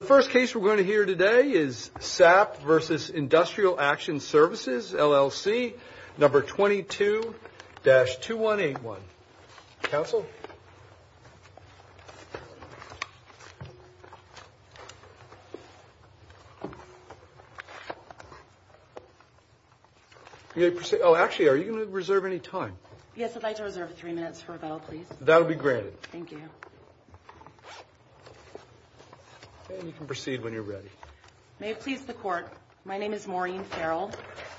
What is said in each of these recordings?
The first case we're going to hear today is Sapp v. Industrial Action Services LLC, number 22-2181. Counsel? Oh, actually, are you going to reserve any time? Yes, I'd like to reserve three minutes for rebuttal, please. That'll be granted. Thank you. And you can proceed when you're ready. May it please the Court, my name is Maureen Farrell,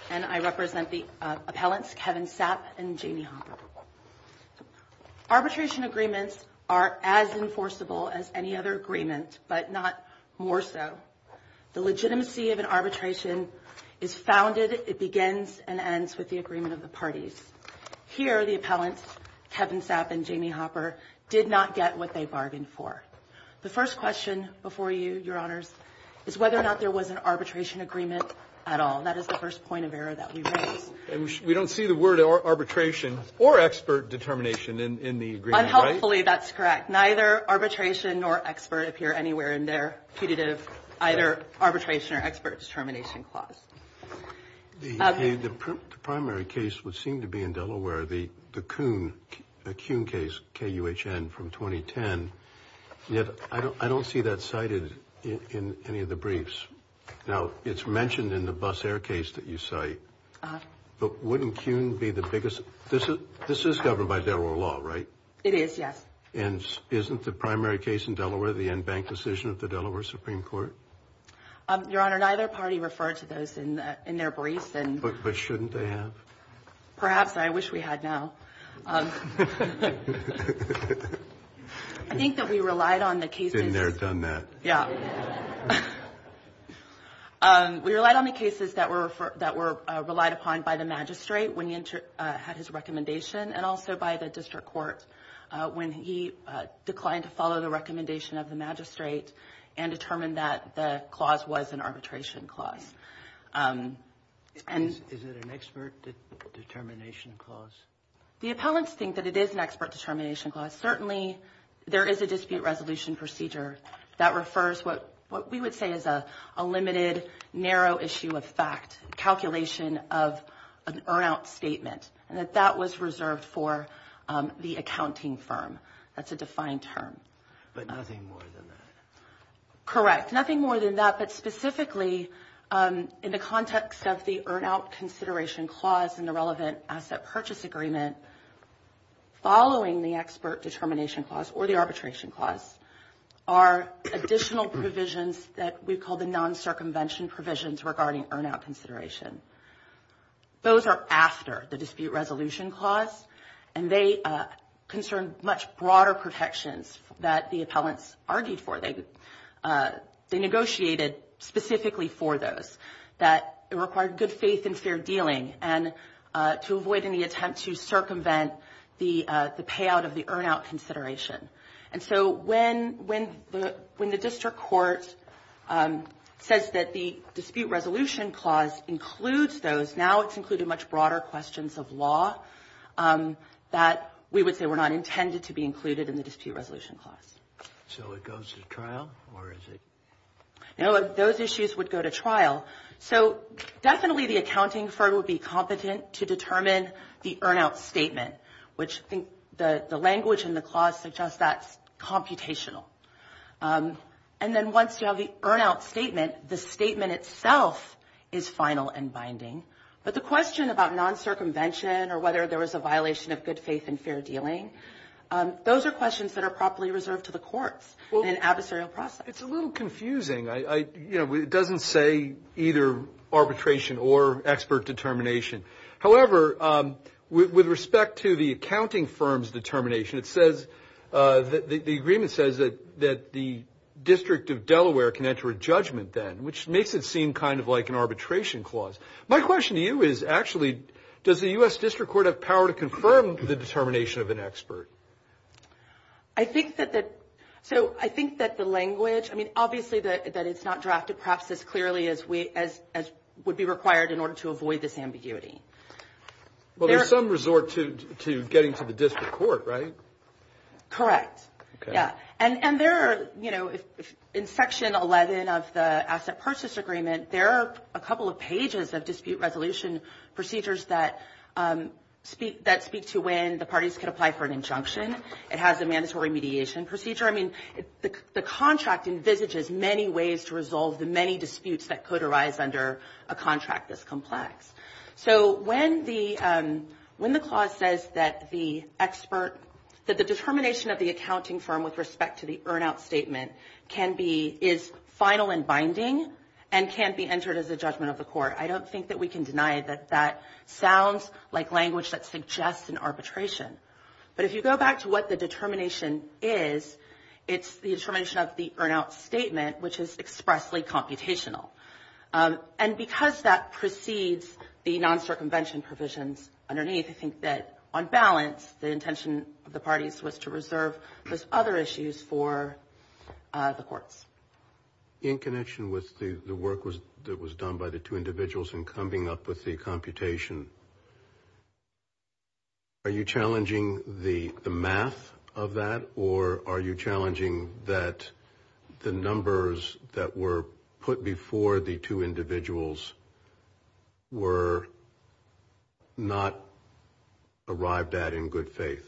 and I represent the appellants Kevin Sapp and Jamie Hopper. Arbitration agreements are as enforceable as any other agreement, but not more so. The legitimacy of an arbitration is founded, it begins, and ends with the agreement of the parties. Here, the appellants, Kevin Sapp and Jamie Hopper, did not get what they bargained for. The first question before you, Your Honors, is whether or not there was an arbitration agreement at all. That is the first point of error that we raise. We don't see the word arbitration or expert determination in the agreement, right? I believe that's correct. Neither arbitration nor expert appear anywhere in their punitive, either arbitration or expert determination clause. The primary case would seem to be in Delaware, the Kuhn case, K-U-H-N, from 2010. Yet, I don't see that cited in any of the briefs. Now, it's mentioned in the Bus Air case that you cite. But wouldn't Kuhn be the biggest? This is governed by federal law, right? It is, yes. And isn't the primary case in Delaware the en banc decision of the Delaware Supreme Court? Your Honor, neither party referred to those in their briefs. But shouldn't they have? Perhaps. I wish we had now. I think that we relied on the cases that were relied upon by the magistrate when he had his recommendation and also by the district court when he declined to follow the recommendation of the magistrate and determined that the clause was an arbitration clause. Is it an expert determination clause? The appellants think that it is an expert determination clause. Certainly, there is a dispute resolution procedure that refers what we would say is a limited, narrow issue of fact, calculation of an earn-out statement, and that that was reserved for the accounting firm. That's a defined term. But nothing more than that? Correct, nothing more than that. But specifically, in the context of the earn-out consideration clause and the relevant asset purchase agreement, following the expert determination clause or the arbitration clause, are additional provisions that we call the non-circumvention provisions regarding earn-out consideration. Those are after the dispute resolution clause, and they concern much broader protections that the appellants argued for. They negotiated specifically for those that required good faith and fair dealing and to avoid any attempt to circumvent the payout of the earn-out consideration. And so when the district court says that the dispute resolution clause includes those, now it's included much broader questions of law that we would say were not intended to be included in the dispute resolution clause. So it goes to trial, or is it? No, those issues would go to trial. So definitely the accounting firm would be competent to determine the earn-out statement, which I think the language in the clause suggests that's computational. And then once you have the earn-out statement, the statement itself is final and binding. But the question about non-circumvention or whether there was a violation of good faith and fair dealing, those are questions that are properly reserved to the courts in an adversarial process. It's a little confusing. It doesn't say either arbitration or expert determination. However, with respect to the accounting firm's determination, the agreement says that the District of Delaware can enter a judgment then, which makes it seem kind of like an arbitration clause. My question to you is, actually, does the U.S. District Court have power to confirm the determination of an expert? I think that the language, I mean, obviously that it's not drafted perhaps as clearly as would be required in order to avoid this ambiguity. Well, there's some resort to getting to the district court, right? Correct. Yeah. And there are, you know, in Section 11 of the Asset Purchase Agreement, there are a couple of pages of dispute resolution procedures that speak to when the parties can apply for an injunction. It has a mandatory mediation procedure. I mean, the contract envisages many ways to resolve the many disputes that could arise under a contract this complex. So when the clause says that the expert, that the determination of the accounting firm with respect to the earn-out statement can be, is final and binding and can't be entered as a judgment of the court, I don't think that we can deny that that sounds like language that suggests an arbitration. But if you go back to what the determination is, it's the determination of the earn-out statement, which is expressly computational. And because that precedes the non-circumvention provisions underneath, I think that on balance the intention of the parties was to reserve those other issues for the courts. In connection with the work that was done by the two individuals in coming up with the computation, are you challenging the math of that, or are you challenging that the numbers that were put before the two individuals were not arrived at in good faith?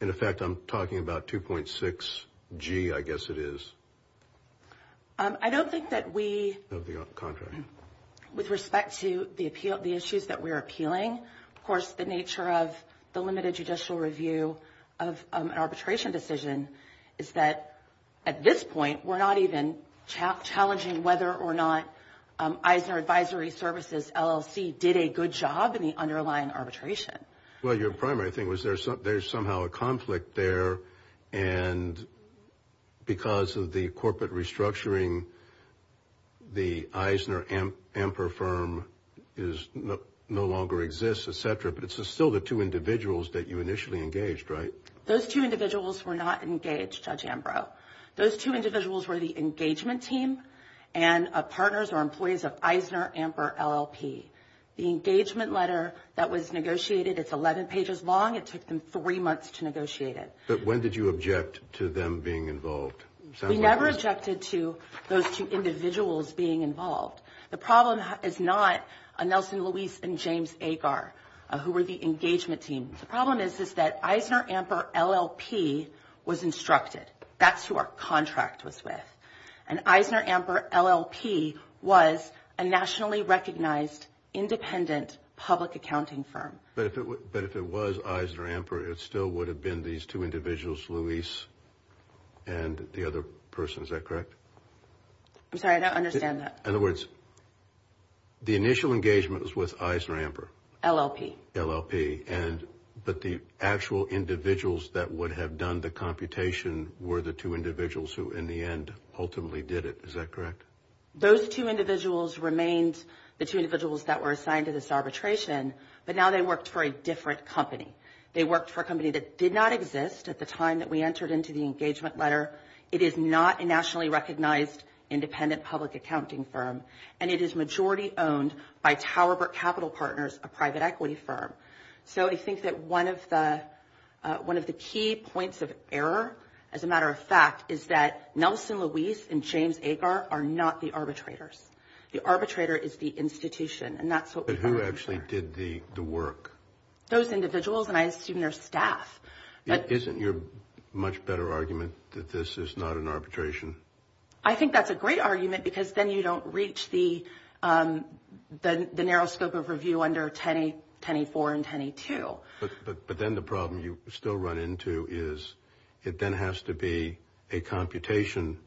In effect, I'm talking about 2.6G, I guess it is. I don't think that we, with respect to the issues that we're appealing, of course the nature of the limited judicial review of an arbitration decision is that at this point, we're not even challenging whether or not Eisner Advisory Services LLC did a good job in the underlying arbitration. Well, your primary thing was there's somehow a conflict there, and because of the corporate restructuring, the Eisner Amper firm no longer exists, et cetera, but it's still the two individuals that you initially engaged, right? Those two individuals were not engaged, Judge Ambrose. Those two individuals were the engagement team and partners or employees of Eisner Amper LLP. The engagement letter that was negotiated, it's 11 pages long. It took them three months to negotiate it. But when did you object to them being involved? We never objected to those two individuals being involved. The problem is not Nelson Luis and James Agar, who were the engagement team. The problem is that Eisner Amper LLP was instructed. That's who our contract was with. And Eisner Amper LLP was a nationally recognized independent public accounting firm. But if it was Eisner Amper, it still would have been these two individuals, Luis and the other person. Is that correct? I'm sorry, I don't understand that. In other words, the initial engagement was with Eisner Amper. LLP. LLP. But the actual individuals that would have done the computation were the two individuals who, in the end, ultimately did it. Is that correct? Those two individuals remained the two individuals that were assigned to this arbitration, but now they worked for a different company. They worked for a company that did not exist at the time that we entered into the engagement letter. It is not a nationally recognized independent public accounting firm, and it is majority owned by Tower Brook Capital Partners, a private equity firm. So I think that one of the key points of error, as a matter of fact, is that Nelson Luis and James Agar are not the arbitrators. The arbitrator is the institution. But who actually did the work? Those individuals, and I assume their staff. Isn't your much better argument that this is not an arbitration? I think that's a great argument because then you don't reach the narrow scope of review under 10E4 and 10E2. But then the problem you still run into is it then has to be a computation,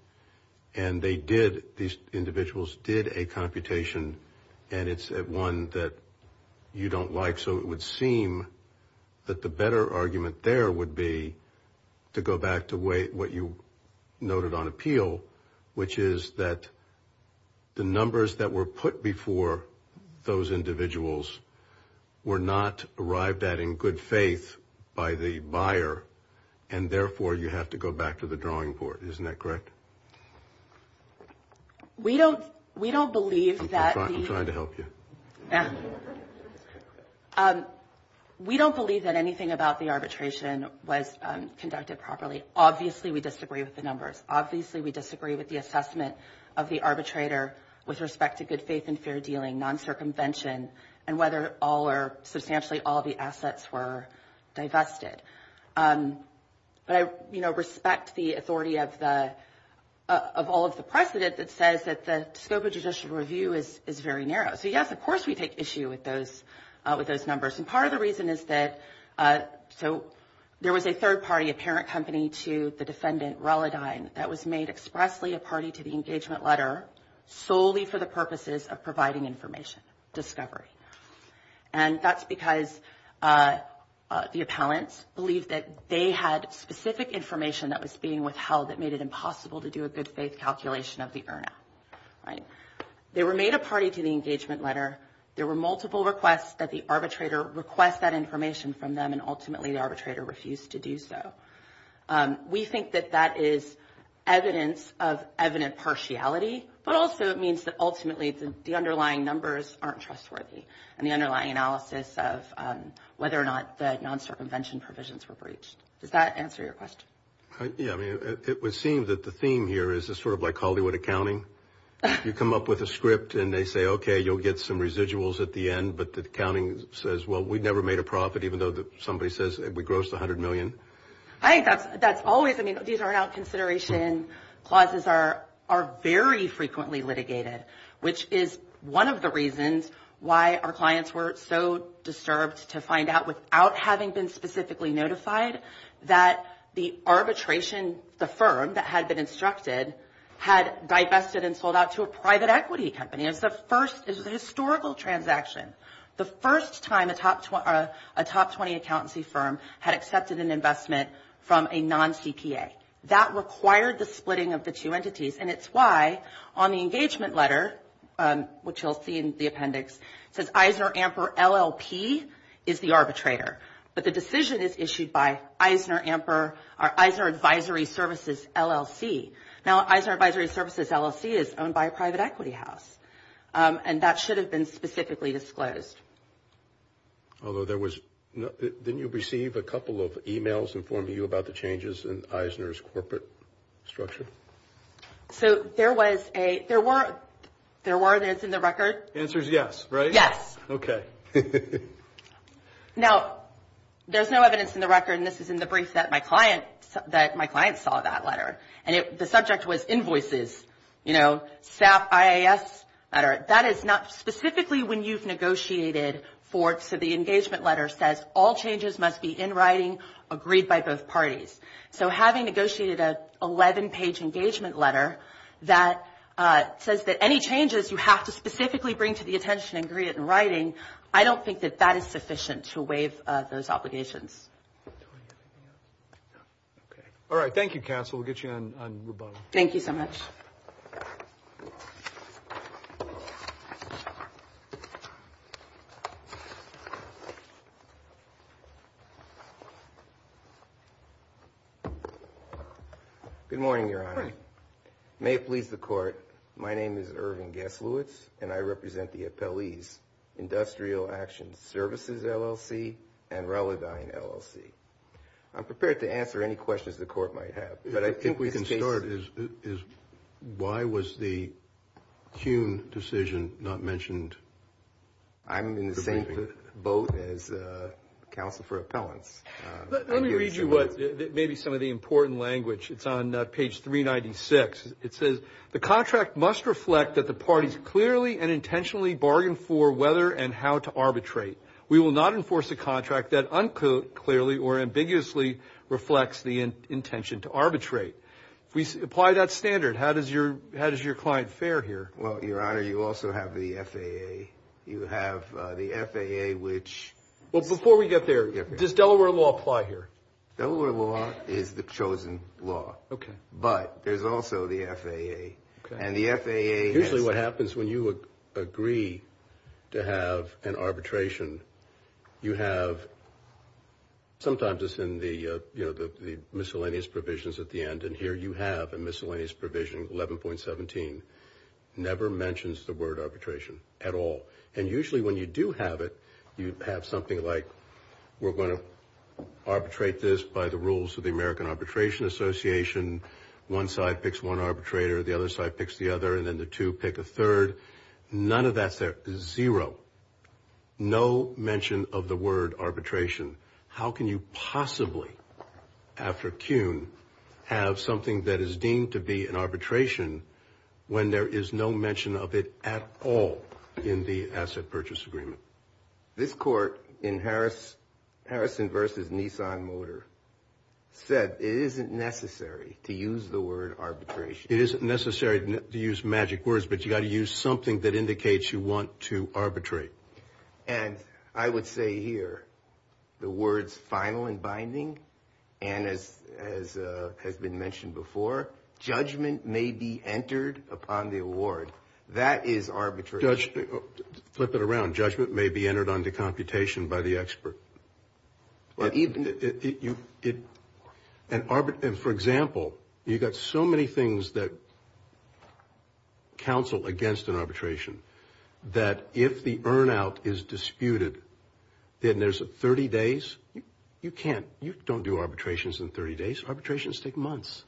and they did, these individuals did a computation, and it's one that you don't like. So it would seem that the better argument there would be to go back to what you noted on appeal, which is that the numbers that were put before those individuals were not arrived at in good faith by the buyer, and therefore you have to go back to the drawing board. Isn't that correct? We don't believe that. I'm trying to help you. We don't believe that anything about the arbitration was conducted properly. Obviously we disagree with the numbers. Obviously we disagree with the assessment of the arbitrator with respect to good faith and fair dealing, non-circumvention, and whether all or substantially all the assets were divested. But I respect the authority of all of the precedent that says that the scope of judicial review is very narrow. So, yes, of course we take issue with those numbers, and part of the reason is that there was a third party, a parent company, to the defendant, Reladine, that was made expressly a party to the engagement letter solely for the purposes of providing information, discovery. And that's because the appellants believed that they had specific information that was being withheld that made it impossible to do a good faith calculation of the earner. They were made a party to the engagement letter. There were multiple requests that the arbitrator request that information from them, and ultimately the arbitrator refused to do so. We think that that is evidence of evident partiality, but also it means that ultimately the underlying numbers aren't trustworthy and the underlying analysis of whether or not the non-circumvention provisions were breached. Does that answer your question? Yeah, I mean, it would seem that the theme here is sort of like Hollywood accounting. You come up with a script and they say, okay, you'll get some residuals at the end, but the accounting says, well, we never made a profit even though somebody says we grossed $100 million. I think that's always, I mean, these are now consideration clauses are very frequently litigated, which is one of the reasons why our clients were so disturbed to find out without having been specifically notified that the arbitration, the firm that had been instructed, had divested and sold out to a private equity company. It was the first, it was a historical transaction. The first time a top 20 accountancy firm had accepted an investment from a non-CPA. That required the splitting of the two entities, and it's why on the engagement letter, which you'll see in the appendix, it says Eisner Amper LLP is the arbitrator, but the decision is issued by Eisner Advisory Services LLC. Now, Eisner Advisory Services LLC is owned by a private equity house, and that should have been specifically disclosed. Although there was, didn't you receive a couple of emails informing you about the changes in Eisner's corporate structure? So there was a, there were, there were, and it's in the record. The answer is yes, right? Yes. Okay. Now, there's no evidence in the record, and this is in the brief that my client, that my client saw that letter, and the subject was invoices, you know, staff IAS letter. That is not specifically when you've negotiated for, so the engagement letter says, all changes must be in writing, agreed by both parties. So having negotiated an 11-page engagement letter that says that any changes you have to specifically bring to the attention and agree to it in writing, I don't think that that is sufficient to waive those obligations. Do we have anything else? No. Okay. All right. Thank you, counsel. We'll get you on rebuttal. Thank you so much. Good morning, Your Honor. Good morning. May it please the Court. My name is Irving Gesluitz, and I represent the appellees, Industrial Action Services, LLC, and Relidine, LLC. I'm prepared to answer any questions the Court might have, but I think we can start. Why was the Kuhn decision not mentioned? I'm in the same boat as counsel for appellants. Let me read you maybe some of the important language. It's on page 396. It says, the contract must reflect that the parties clearly and intentionally bargain for whether and how to arbitrate. We will not enforce a contract that unclearly or ambiguously reflects the intention to arbitrate. If we apply that standard, how does your client fare here? Well, Your Honor, you also have the FAA. You have the FAA, which – Well, before we get there, does Delaware law apply here? Delaware law is the chosen law. Okay. But there's also the FAA, and the FAA – Usually what happens when you agree to have an arbitration, you have – sometimes it's in the miscellaneous provisions at the end, and here you have a miscellaneous provision, 11.17. It never mentions the word arbitration at all. And usually when you do have it, you have something like, we're going to arbitrate this by the rules of the American Arbitration Association. One side picks one arbitrator. The other side picks the other, and then the two pick a third. None of that's there. Zero. No mention of the word arbitration. How can you possibly, after Kuhn, have something that is deemed to be an arbitration when there is no mention of it at all in the asset purchase agreement? This court in Harrison v. Nissan Motor said it isn't necessary to use the word arbitration. It isn't necessary to use magic words, but you've got to use something that indicates you want to arbitrate. And I would say here, the words final and binding, and as has been mentioned before, judgment may be entered upon the award. That is arbitration. Flip it around. Judgment may be entered onto computation by the expert. And for example, you've got so many things that counsel against an arbitration that if the earn out is disputed, then there's 30 days. You can't. You don't do arbitrations in 30 days. Arbitrations take months.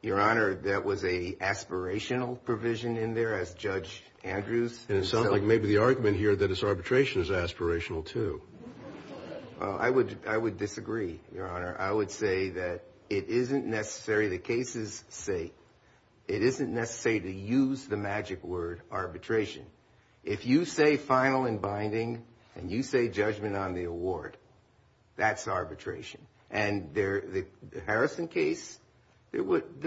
Your Honor, that was an aspirational provision in there as Judge Andrews. And it sounds like maybe the argument here that it's arbitration is aspirational too. Well, I would disagree, Your Honor. I would say that it isn't necessary. The cases say it isn't necessary to use the magic word arbitration. If you say final and binding and you say judgment on the award, that's arbitration. And the Harrison case, the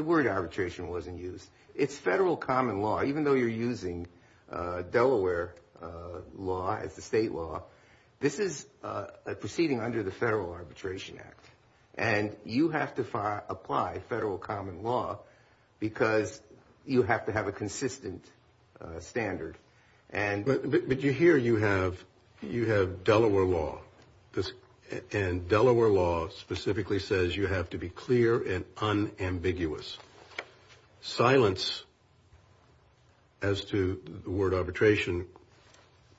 word arbitration wasn't used. It's federal common law. Even though you're using Delaware law as the state law, this is proceeding under the Federal Arbitration Act. And you have to apply federal common law because you have to have a consistent standard. But here you have Delaware law. And Delaware law specifically says you have to be clear and unambiguous. Silence as to the word arbitration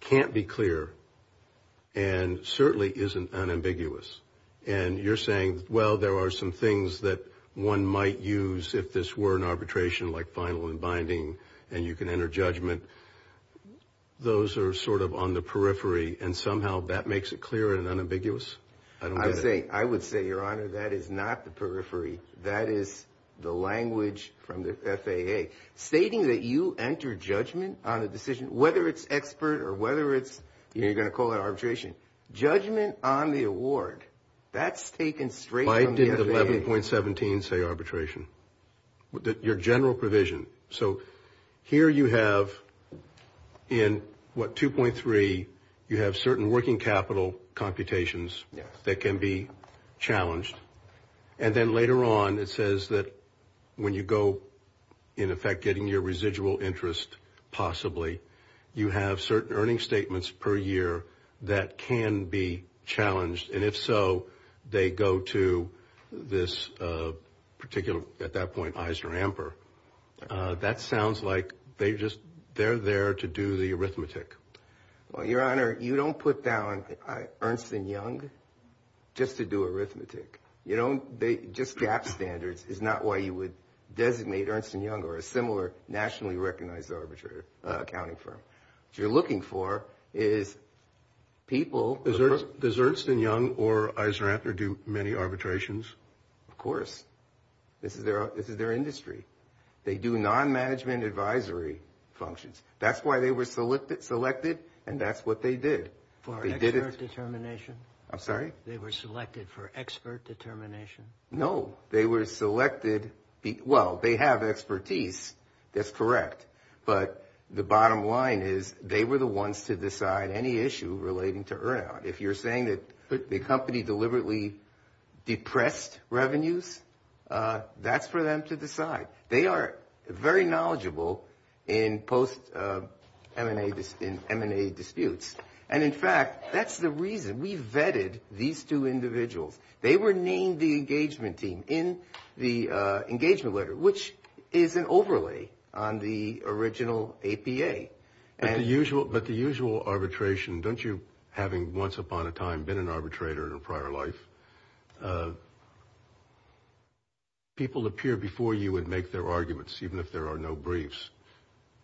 can't be clear and certainly isn't unambiguous. And you're saying, well, there are some things that one might use if this were an arbitration, like final and binding, and you can enter judgment. Those are sort of on the periphery and somehow that makes it clear and unambiguous. I would say, Your Honor, that is not the periphery. That is the language from the FAA stating that you enter judgment on a decision, whether it's expert or whether it's you're going to call it arbitration. Judgment on the award, that's taken straight from the FAA. Why did 11.17 say arbitration? Your general provision. So here you have in, what, 2.3, you have certain working capital computations that can be challenged. And then later on it says that when you go, in effect, getting your residual interest possibly, you have certain earning statements per year that can be challenged. And if so, they go to this particular, at that point, Eisner Amper. That sounds like they just, they're there to do the arithmetic. Well, Your Honor, you don't put down Ernst & Young just to do arithmetic. You don't, they, just GAAP standards is not why you would designate Ernst & Young or a similar nationally recognized arbitrator accounting firm. What you're looking for is people. Does Ernst & Young or Eisner Amper do many arbitrations? Of course. This is their industry. They do non-management advisory functions. That's why they were selected, and that's what they did. For expert determination? I'm sorry? They were selected for expert determination? No. They were selected, well, they have expertise. That's correct. But the bottom line is they were the ones to decide any issue relating to earn out. If you're saying that the company deliberately depressed revenues, that's for them to decide. They are very knowledgeable in post-M&A disputes. And, in fact, that's the reason we vetted these two individuals. They were named the engagement team in the engagement letter, which is an overlay on the original APA. But the usual arbitration, don't you, having once upon a time been an arbitrator in a prior life, people appear before you and make their arguments, even if there are no briefs.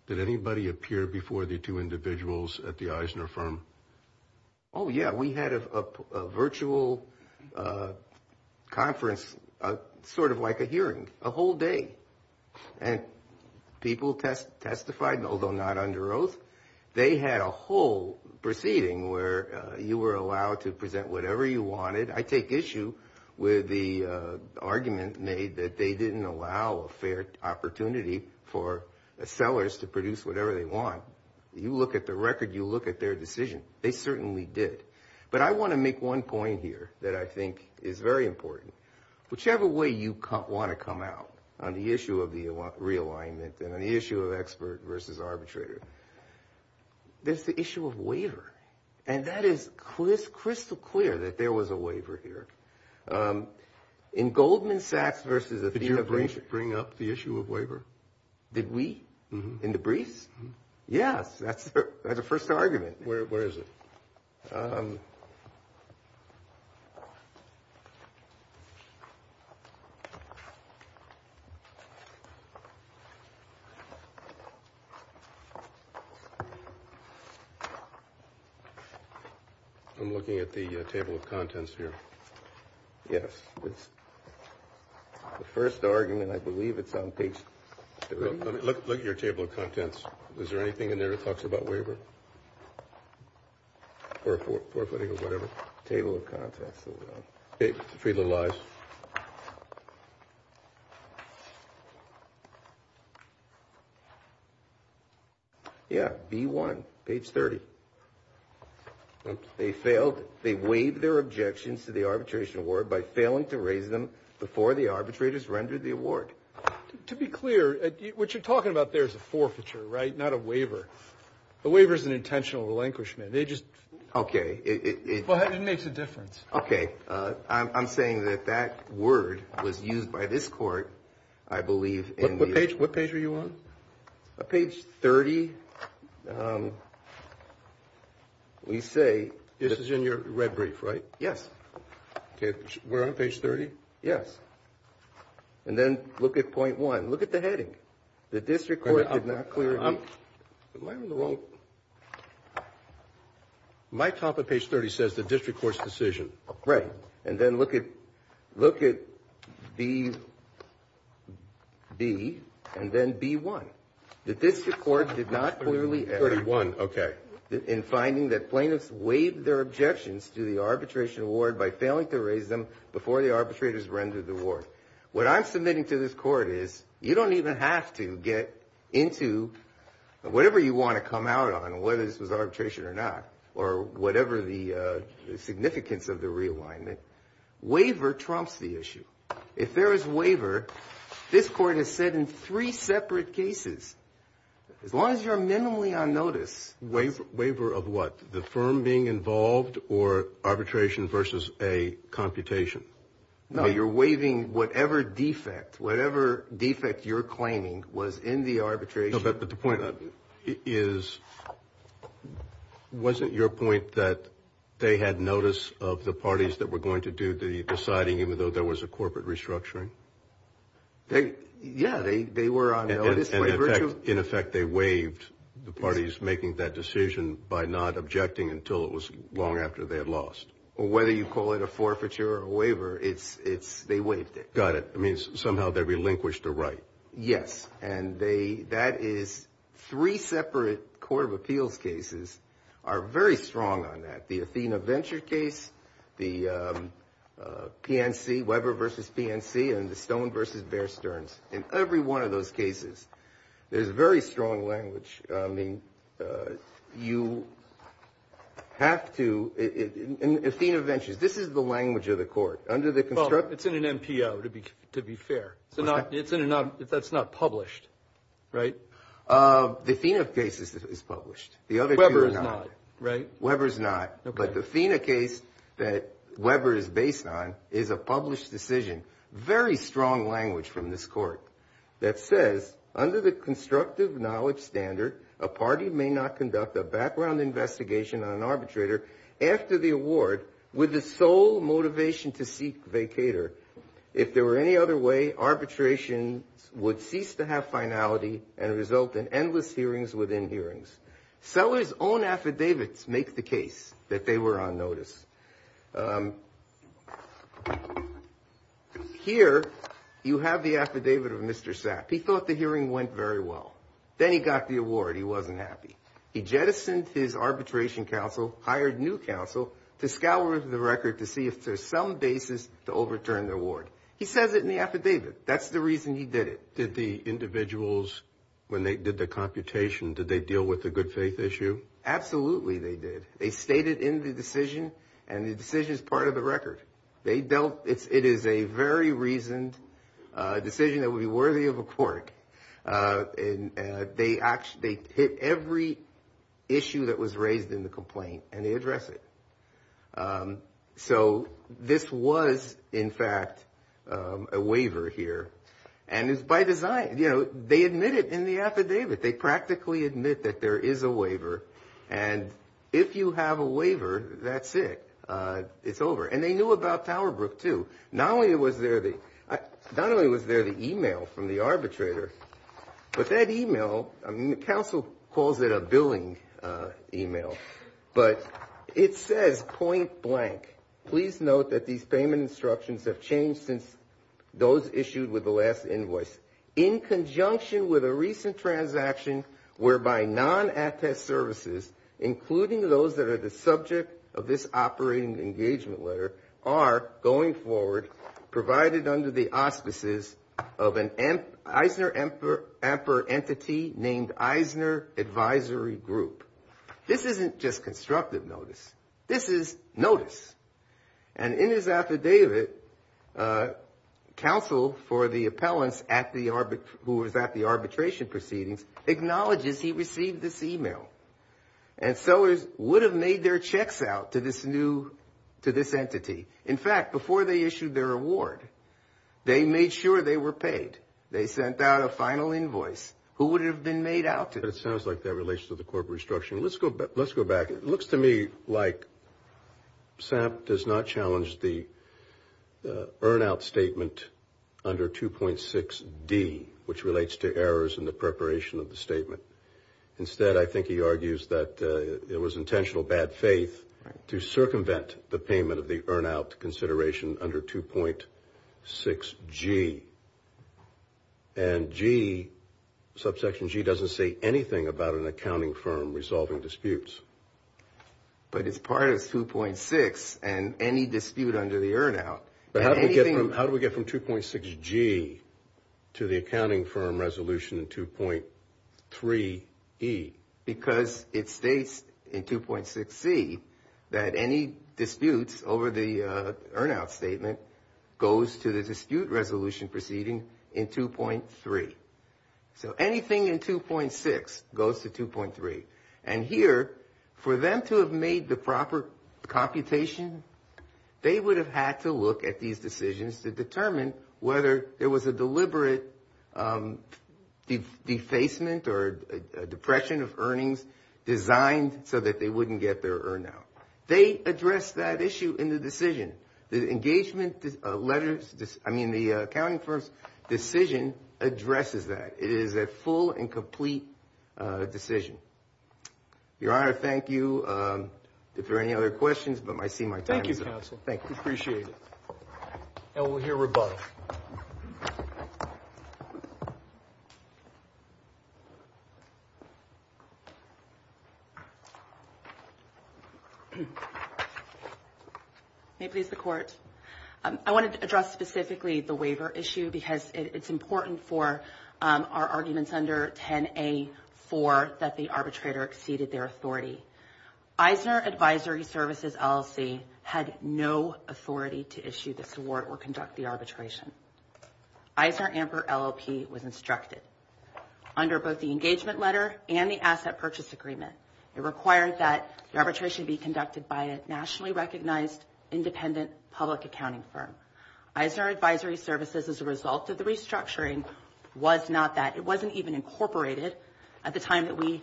Did anybody appear before the two individuals at the Eisner firm? Oh, yeah. We had a virtual conference, sort of like a hearing, a whole day. And people testified, although not under oath. They had a whole proceeding where you were allowed to present whatever you wanted. I take issue with the argument made that they didn't allow a fair opportunity for sellers to produce whatever they want. You look at the record. You look at their decision. They certainly did. But I want to make one point here that I think is very important. Whichever way you want to come out on the issue of the realignment and on the issue of expert versus arbitrator, there's the issue of waiver. And that is crystal clear that there was a waiver here. In Goldman Sachs versus Athena Brinkman. Did you bring up the issue of waiver? Did we? In the briefs? Yes. That's the first argument. Where is it? I'm looking at the table of contents here. Yes. The first argument, I believe, it's on page three. Look at your table of contents. Is there anything in there that talks about waiver? Or forefooting or whatever. Table of contents. Freedom of life. Yeah, B1, page 30. They failed. They waived their objections to the arbitration award by failing to raise them before the arbitrators rendered the award. To be clear, what you're talking about there is a forfeiture, right? Not a waiver. A waiver is an intentional relinquishment. They just... Okay. It makes a difference. Okay. I'm saying that that word was used by this court, I believe, in the... What page are you on? Page 30. We say... This is in your red brief, right? Yes. We're on page 30? Yes. And then look at point one. Look at the heading. The district court did not clearly... Am I on the wrong... My topic, page 30, says the district court's decision. Right. And then look at B and then B1. The district court did not clearly... 31, okay. ...in finding that plaintiffs waived their objections to the arbitration award by failing to raise them before the arbitrators rendered the award. What I'm submitting to this court is you don't even have to get into whatever you want to come out on, whether this was arbitration or not, or whatever the significance of the realignment. Waiver trumps the issue. If there is waiver, this court has said in three separate cases, as long as you're minimally on notice... Waiver of what? The firm being involved or arbitration versus a computation? No, you're waiving whatever defect, whatever defect you're claiming was in the arbitration. But the point is, wasn't your point that they had notice of the parties that were going to do the deciding, even though there was a corporate restructuring? Yeah, they were on notice. In effect, they waived the parties making that decision by not objecting until it was long after they had lost. Whether you call it a forfeiture or a waiver, they waived it. Got it. It means somehow they relinquished the right. Yes, and that is three separate court of appeals cases are very strong on that. The Athena Venture case, the PNC, Weber versus PNC, and the Stone versus Bear Stearns. In every one of those cases, there's very strong language. I mean, you have to... In Athena Ventures, this is the language of the court. It's in an NPO, to be fair. That's not published, right? The Athena case is published. Weber is not, right? Weber is not. But the Athena case that Weber is based on is a published decision. Very strong language from this court that says, under the constructive knowledge standard, a party may not conduct a background investigation on an arbitrator after the award with the sole motivation to seek vacator. If there were any other way, arbitration would cease to have finality and result in endless hearings within hearings. Sellers' own affidavits make the case that they were on notice. Here, you have the affidavit of Mr. Sapp. He thought the hearing went very well. Then he got the award. He wasn't happy. He jettisoned his arbitration counsel, hired new counsel, to scour the record to see if there's some basis to overturn the award. He says it in the affidavit. That's the reason he did it. Did the individuals, when they did the computation, did they deal with the good faith issue? Absolutely, they did. They stated in the decision, and the decision is part of the record. It is a very reasoned decision that would be worthy of a court. They hit every issue that was raised in the complaint, and they address it. So this was, in fact, a waiver here. And it's by design. They admit it in the affidavit. They practically admit that there is a waiver. And if you have a waiver, that's it. It's over. And they knew about Tower Brook, too. Not only was there the e-mail from the arbitrator, but that e-mail, the counsel calls it a billing e-mail, but it says, point blank, please note that these payment instructions have changed since those issued with the last invoice. In conjunction with a recent transaction whereby non-attest services, including those that are the subject of this operating engagement letter, are going forward provided under the auspices of an Eisner amper entity named Eisner Advisory Group. This isn't just constructive notice. This is notice. And in his affidavit, counsel for the appellants who was at the arbitration proceedings acknowledges he received this e-mail. And sellers would have made their checks out to this entity. In fact, before they issued their award, they made sure they were paid. They sent out a final invoice. Who would it have been made out to? It sounds like that relates to the corporate instruction. Let's go back. It looks to me like Sam does not challenge the earn-out statement under 2.6D, which relates to errors in the preparation of the statement. Instead, I think he argues that it was intentional bad faith to circumvent the payment of the earn-out consideration under 2.6G. And G, subsection G, doesn't say anything about an accounting firm resolving disputes. But it's part of 2.6 and any dispute under the earn-out. How do we get from 2.6G to the accounting firm resolution in 2.3E? Because it states in 2.6C that any disputes over the earn-out statement goes to the dispute resolution proceeding in 2.3. So anything in 2.6 goes to 2.3. And here, for them to have made the proper computation, they would have had to look at these decisions to determine whether there was a deliberate defacement or depression of earnings designed so that they wouldn't get their earn-out. They addressed that issue in the decision. The engagement letters, I mean, the accounting firm's decision addresses that. It is a full and complete decision. Your Honor, thank you. If there are any other questions, I see my time is up. Thank you, counsel. We appreciate it. And we'll hear from both. May it please the Court. I wanted to address specifically the waiver issue because it's important for our arguments under 10A4 that the arbitrator exceeded their authority. Eisner Advisory Services LLC had no authority to issue this award or conduct the arbitration. Eisner Amper LLP was instructed. Under both the engagement letter and the asset purchase agreement, it required that the arbitration be conducted by a nationally recognized independent public accounting firm. Eisner Advisory Services, as a result of the restructuring, was not that it wasn't even incorporated at the time that we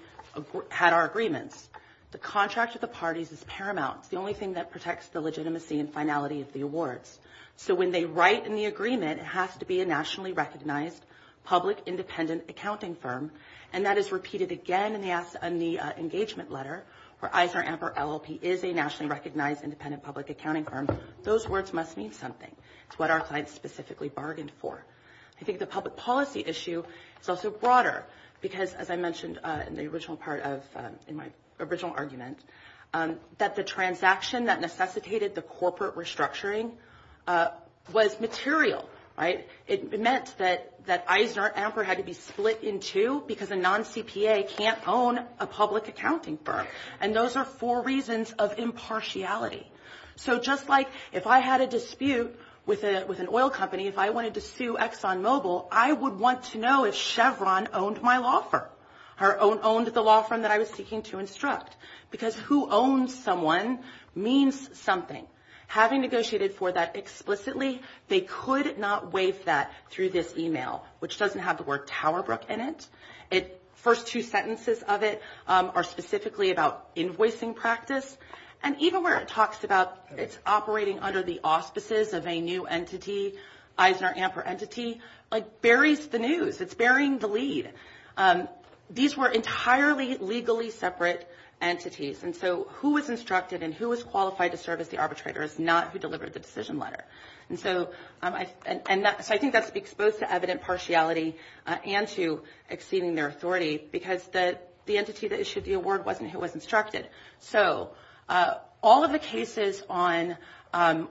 had our agreements. The contract with the parties is paramount. It's the only thing that protects the legitimacy and finality of the awards. So when they write in the agreement, it has to be a nationally recognized public independent accounting firm, and that is repeated again in the engagement letter where Eisner Amper LLP is a nationally recognized independent public accounting firm. Those words must mean something. It's what our client specifically bargained for. I think the public policy issue is also broader because, as I mentioned in the original part of my original argument, that the transaction that necessitated the corporate restructuring was material, right? It meant that Eisner Amper had to be split in two because a non-CPA can't own a public accounting firm, and those are four reasons of impartiality. So just like if I had a dispute with an oil company, if I wanted to sue Exxon Mobil, I would want to know if Chevron owned my law firm or owned the law firm that I was seeking to instruct because who owns someone means something. Having negotiated for that explicitly, they could not waive that through this e-mail, which doesn't have the word Tower Brook in it. The first two sentences of it are specifically about invoicing practice, and even where it talks about it's operating under the auspices of a new entity, Eisner Amper entity, like buries the news. It's burying the lead. These were entirely legally separate entities, and so who was instructed and who was qualified to serve as the arbitrator is not who delivered the decision letter. And so I think that speaks both to evident partiality and to exceeding their authority because the entity that issued the award wasn't who was instructed. So all of the cases on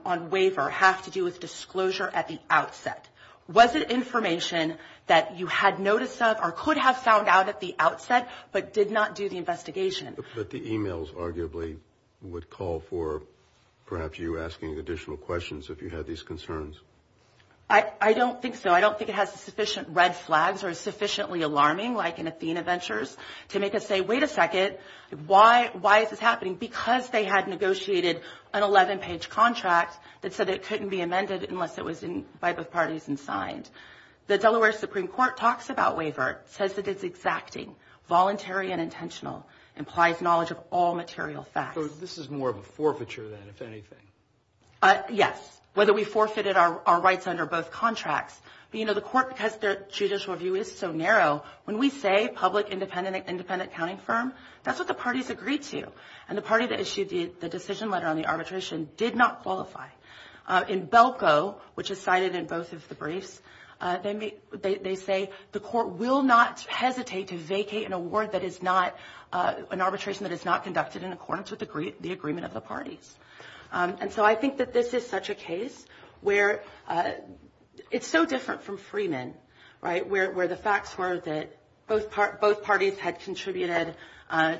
waiver have to do with disclosure at the outset. Was it information that you had notice of or could have found out at the outset but did not do the investigation? But the e-mails arguably would call for perhaps you asking additional questions if you had these concerns. I don't think so. I don't think it has sufficient red flags or is sufficiently alarming like in Athena Ventures to make us say, wait a second, why is this happening? Because they had negotiated an 11-page contract that said it couldn't be amended unless it was by both parties and signed. The Delaware Supreme Court talks about waiver, says that it's exacting, voluntary and intentional, implies knowledge of all material facts. So this is more of a forfeiture then, if anything? Yes, whether we forfeited our rights under both contracts. But, you know, the court, because their judicial review is so narrow, when we say public independent accounting firm, that's what the parties agreed to. And the party that issued the decision letter on the arbitration did not qualify. In Belko, which is cited in both of the briefs, they say the court will not hesitate to vacate an award that is not, an arbitration that is not conducted in accordance with the agreement of the parties. And so I think that this is such a case where it's so different from Freeman, right, where the facts were that both parties had contributed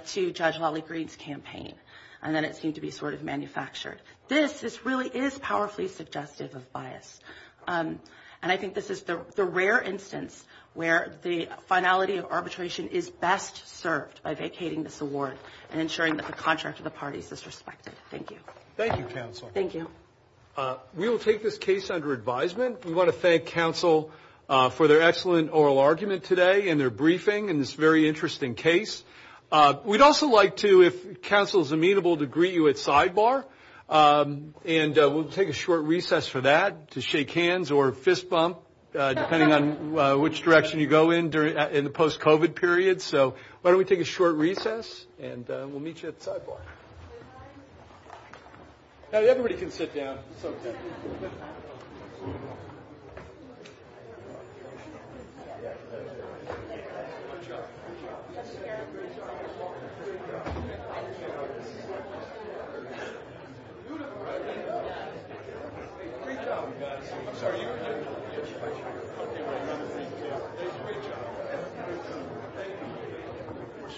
to Judge Lolly Green's campaign and then it seemed to be sort of manufactured. This really is powerfully suggestive of bias. And I think this is the rare instance where the finality of arbitration is best served by vacating this award and ensuring that the contract of the parties is respected. Thank you. Thank you, Counselor. Thank you. We will take this case under advisement. We want to thank Counsel for their excellent oral argument today and their briefing in this very interesting case. We'd also like to, if Counsel is amenable, to greet you at sidebar, and we'll take a short recess for that to shake hands or fist bump, depending on which direction you go in during the post-COVID period. So why don't we take a short recess, and we'll meet you at sidebar. Everybody can sit down.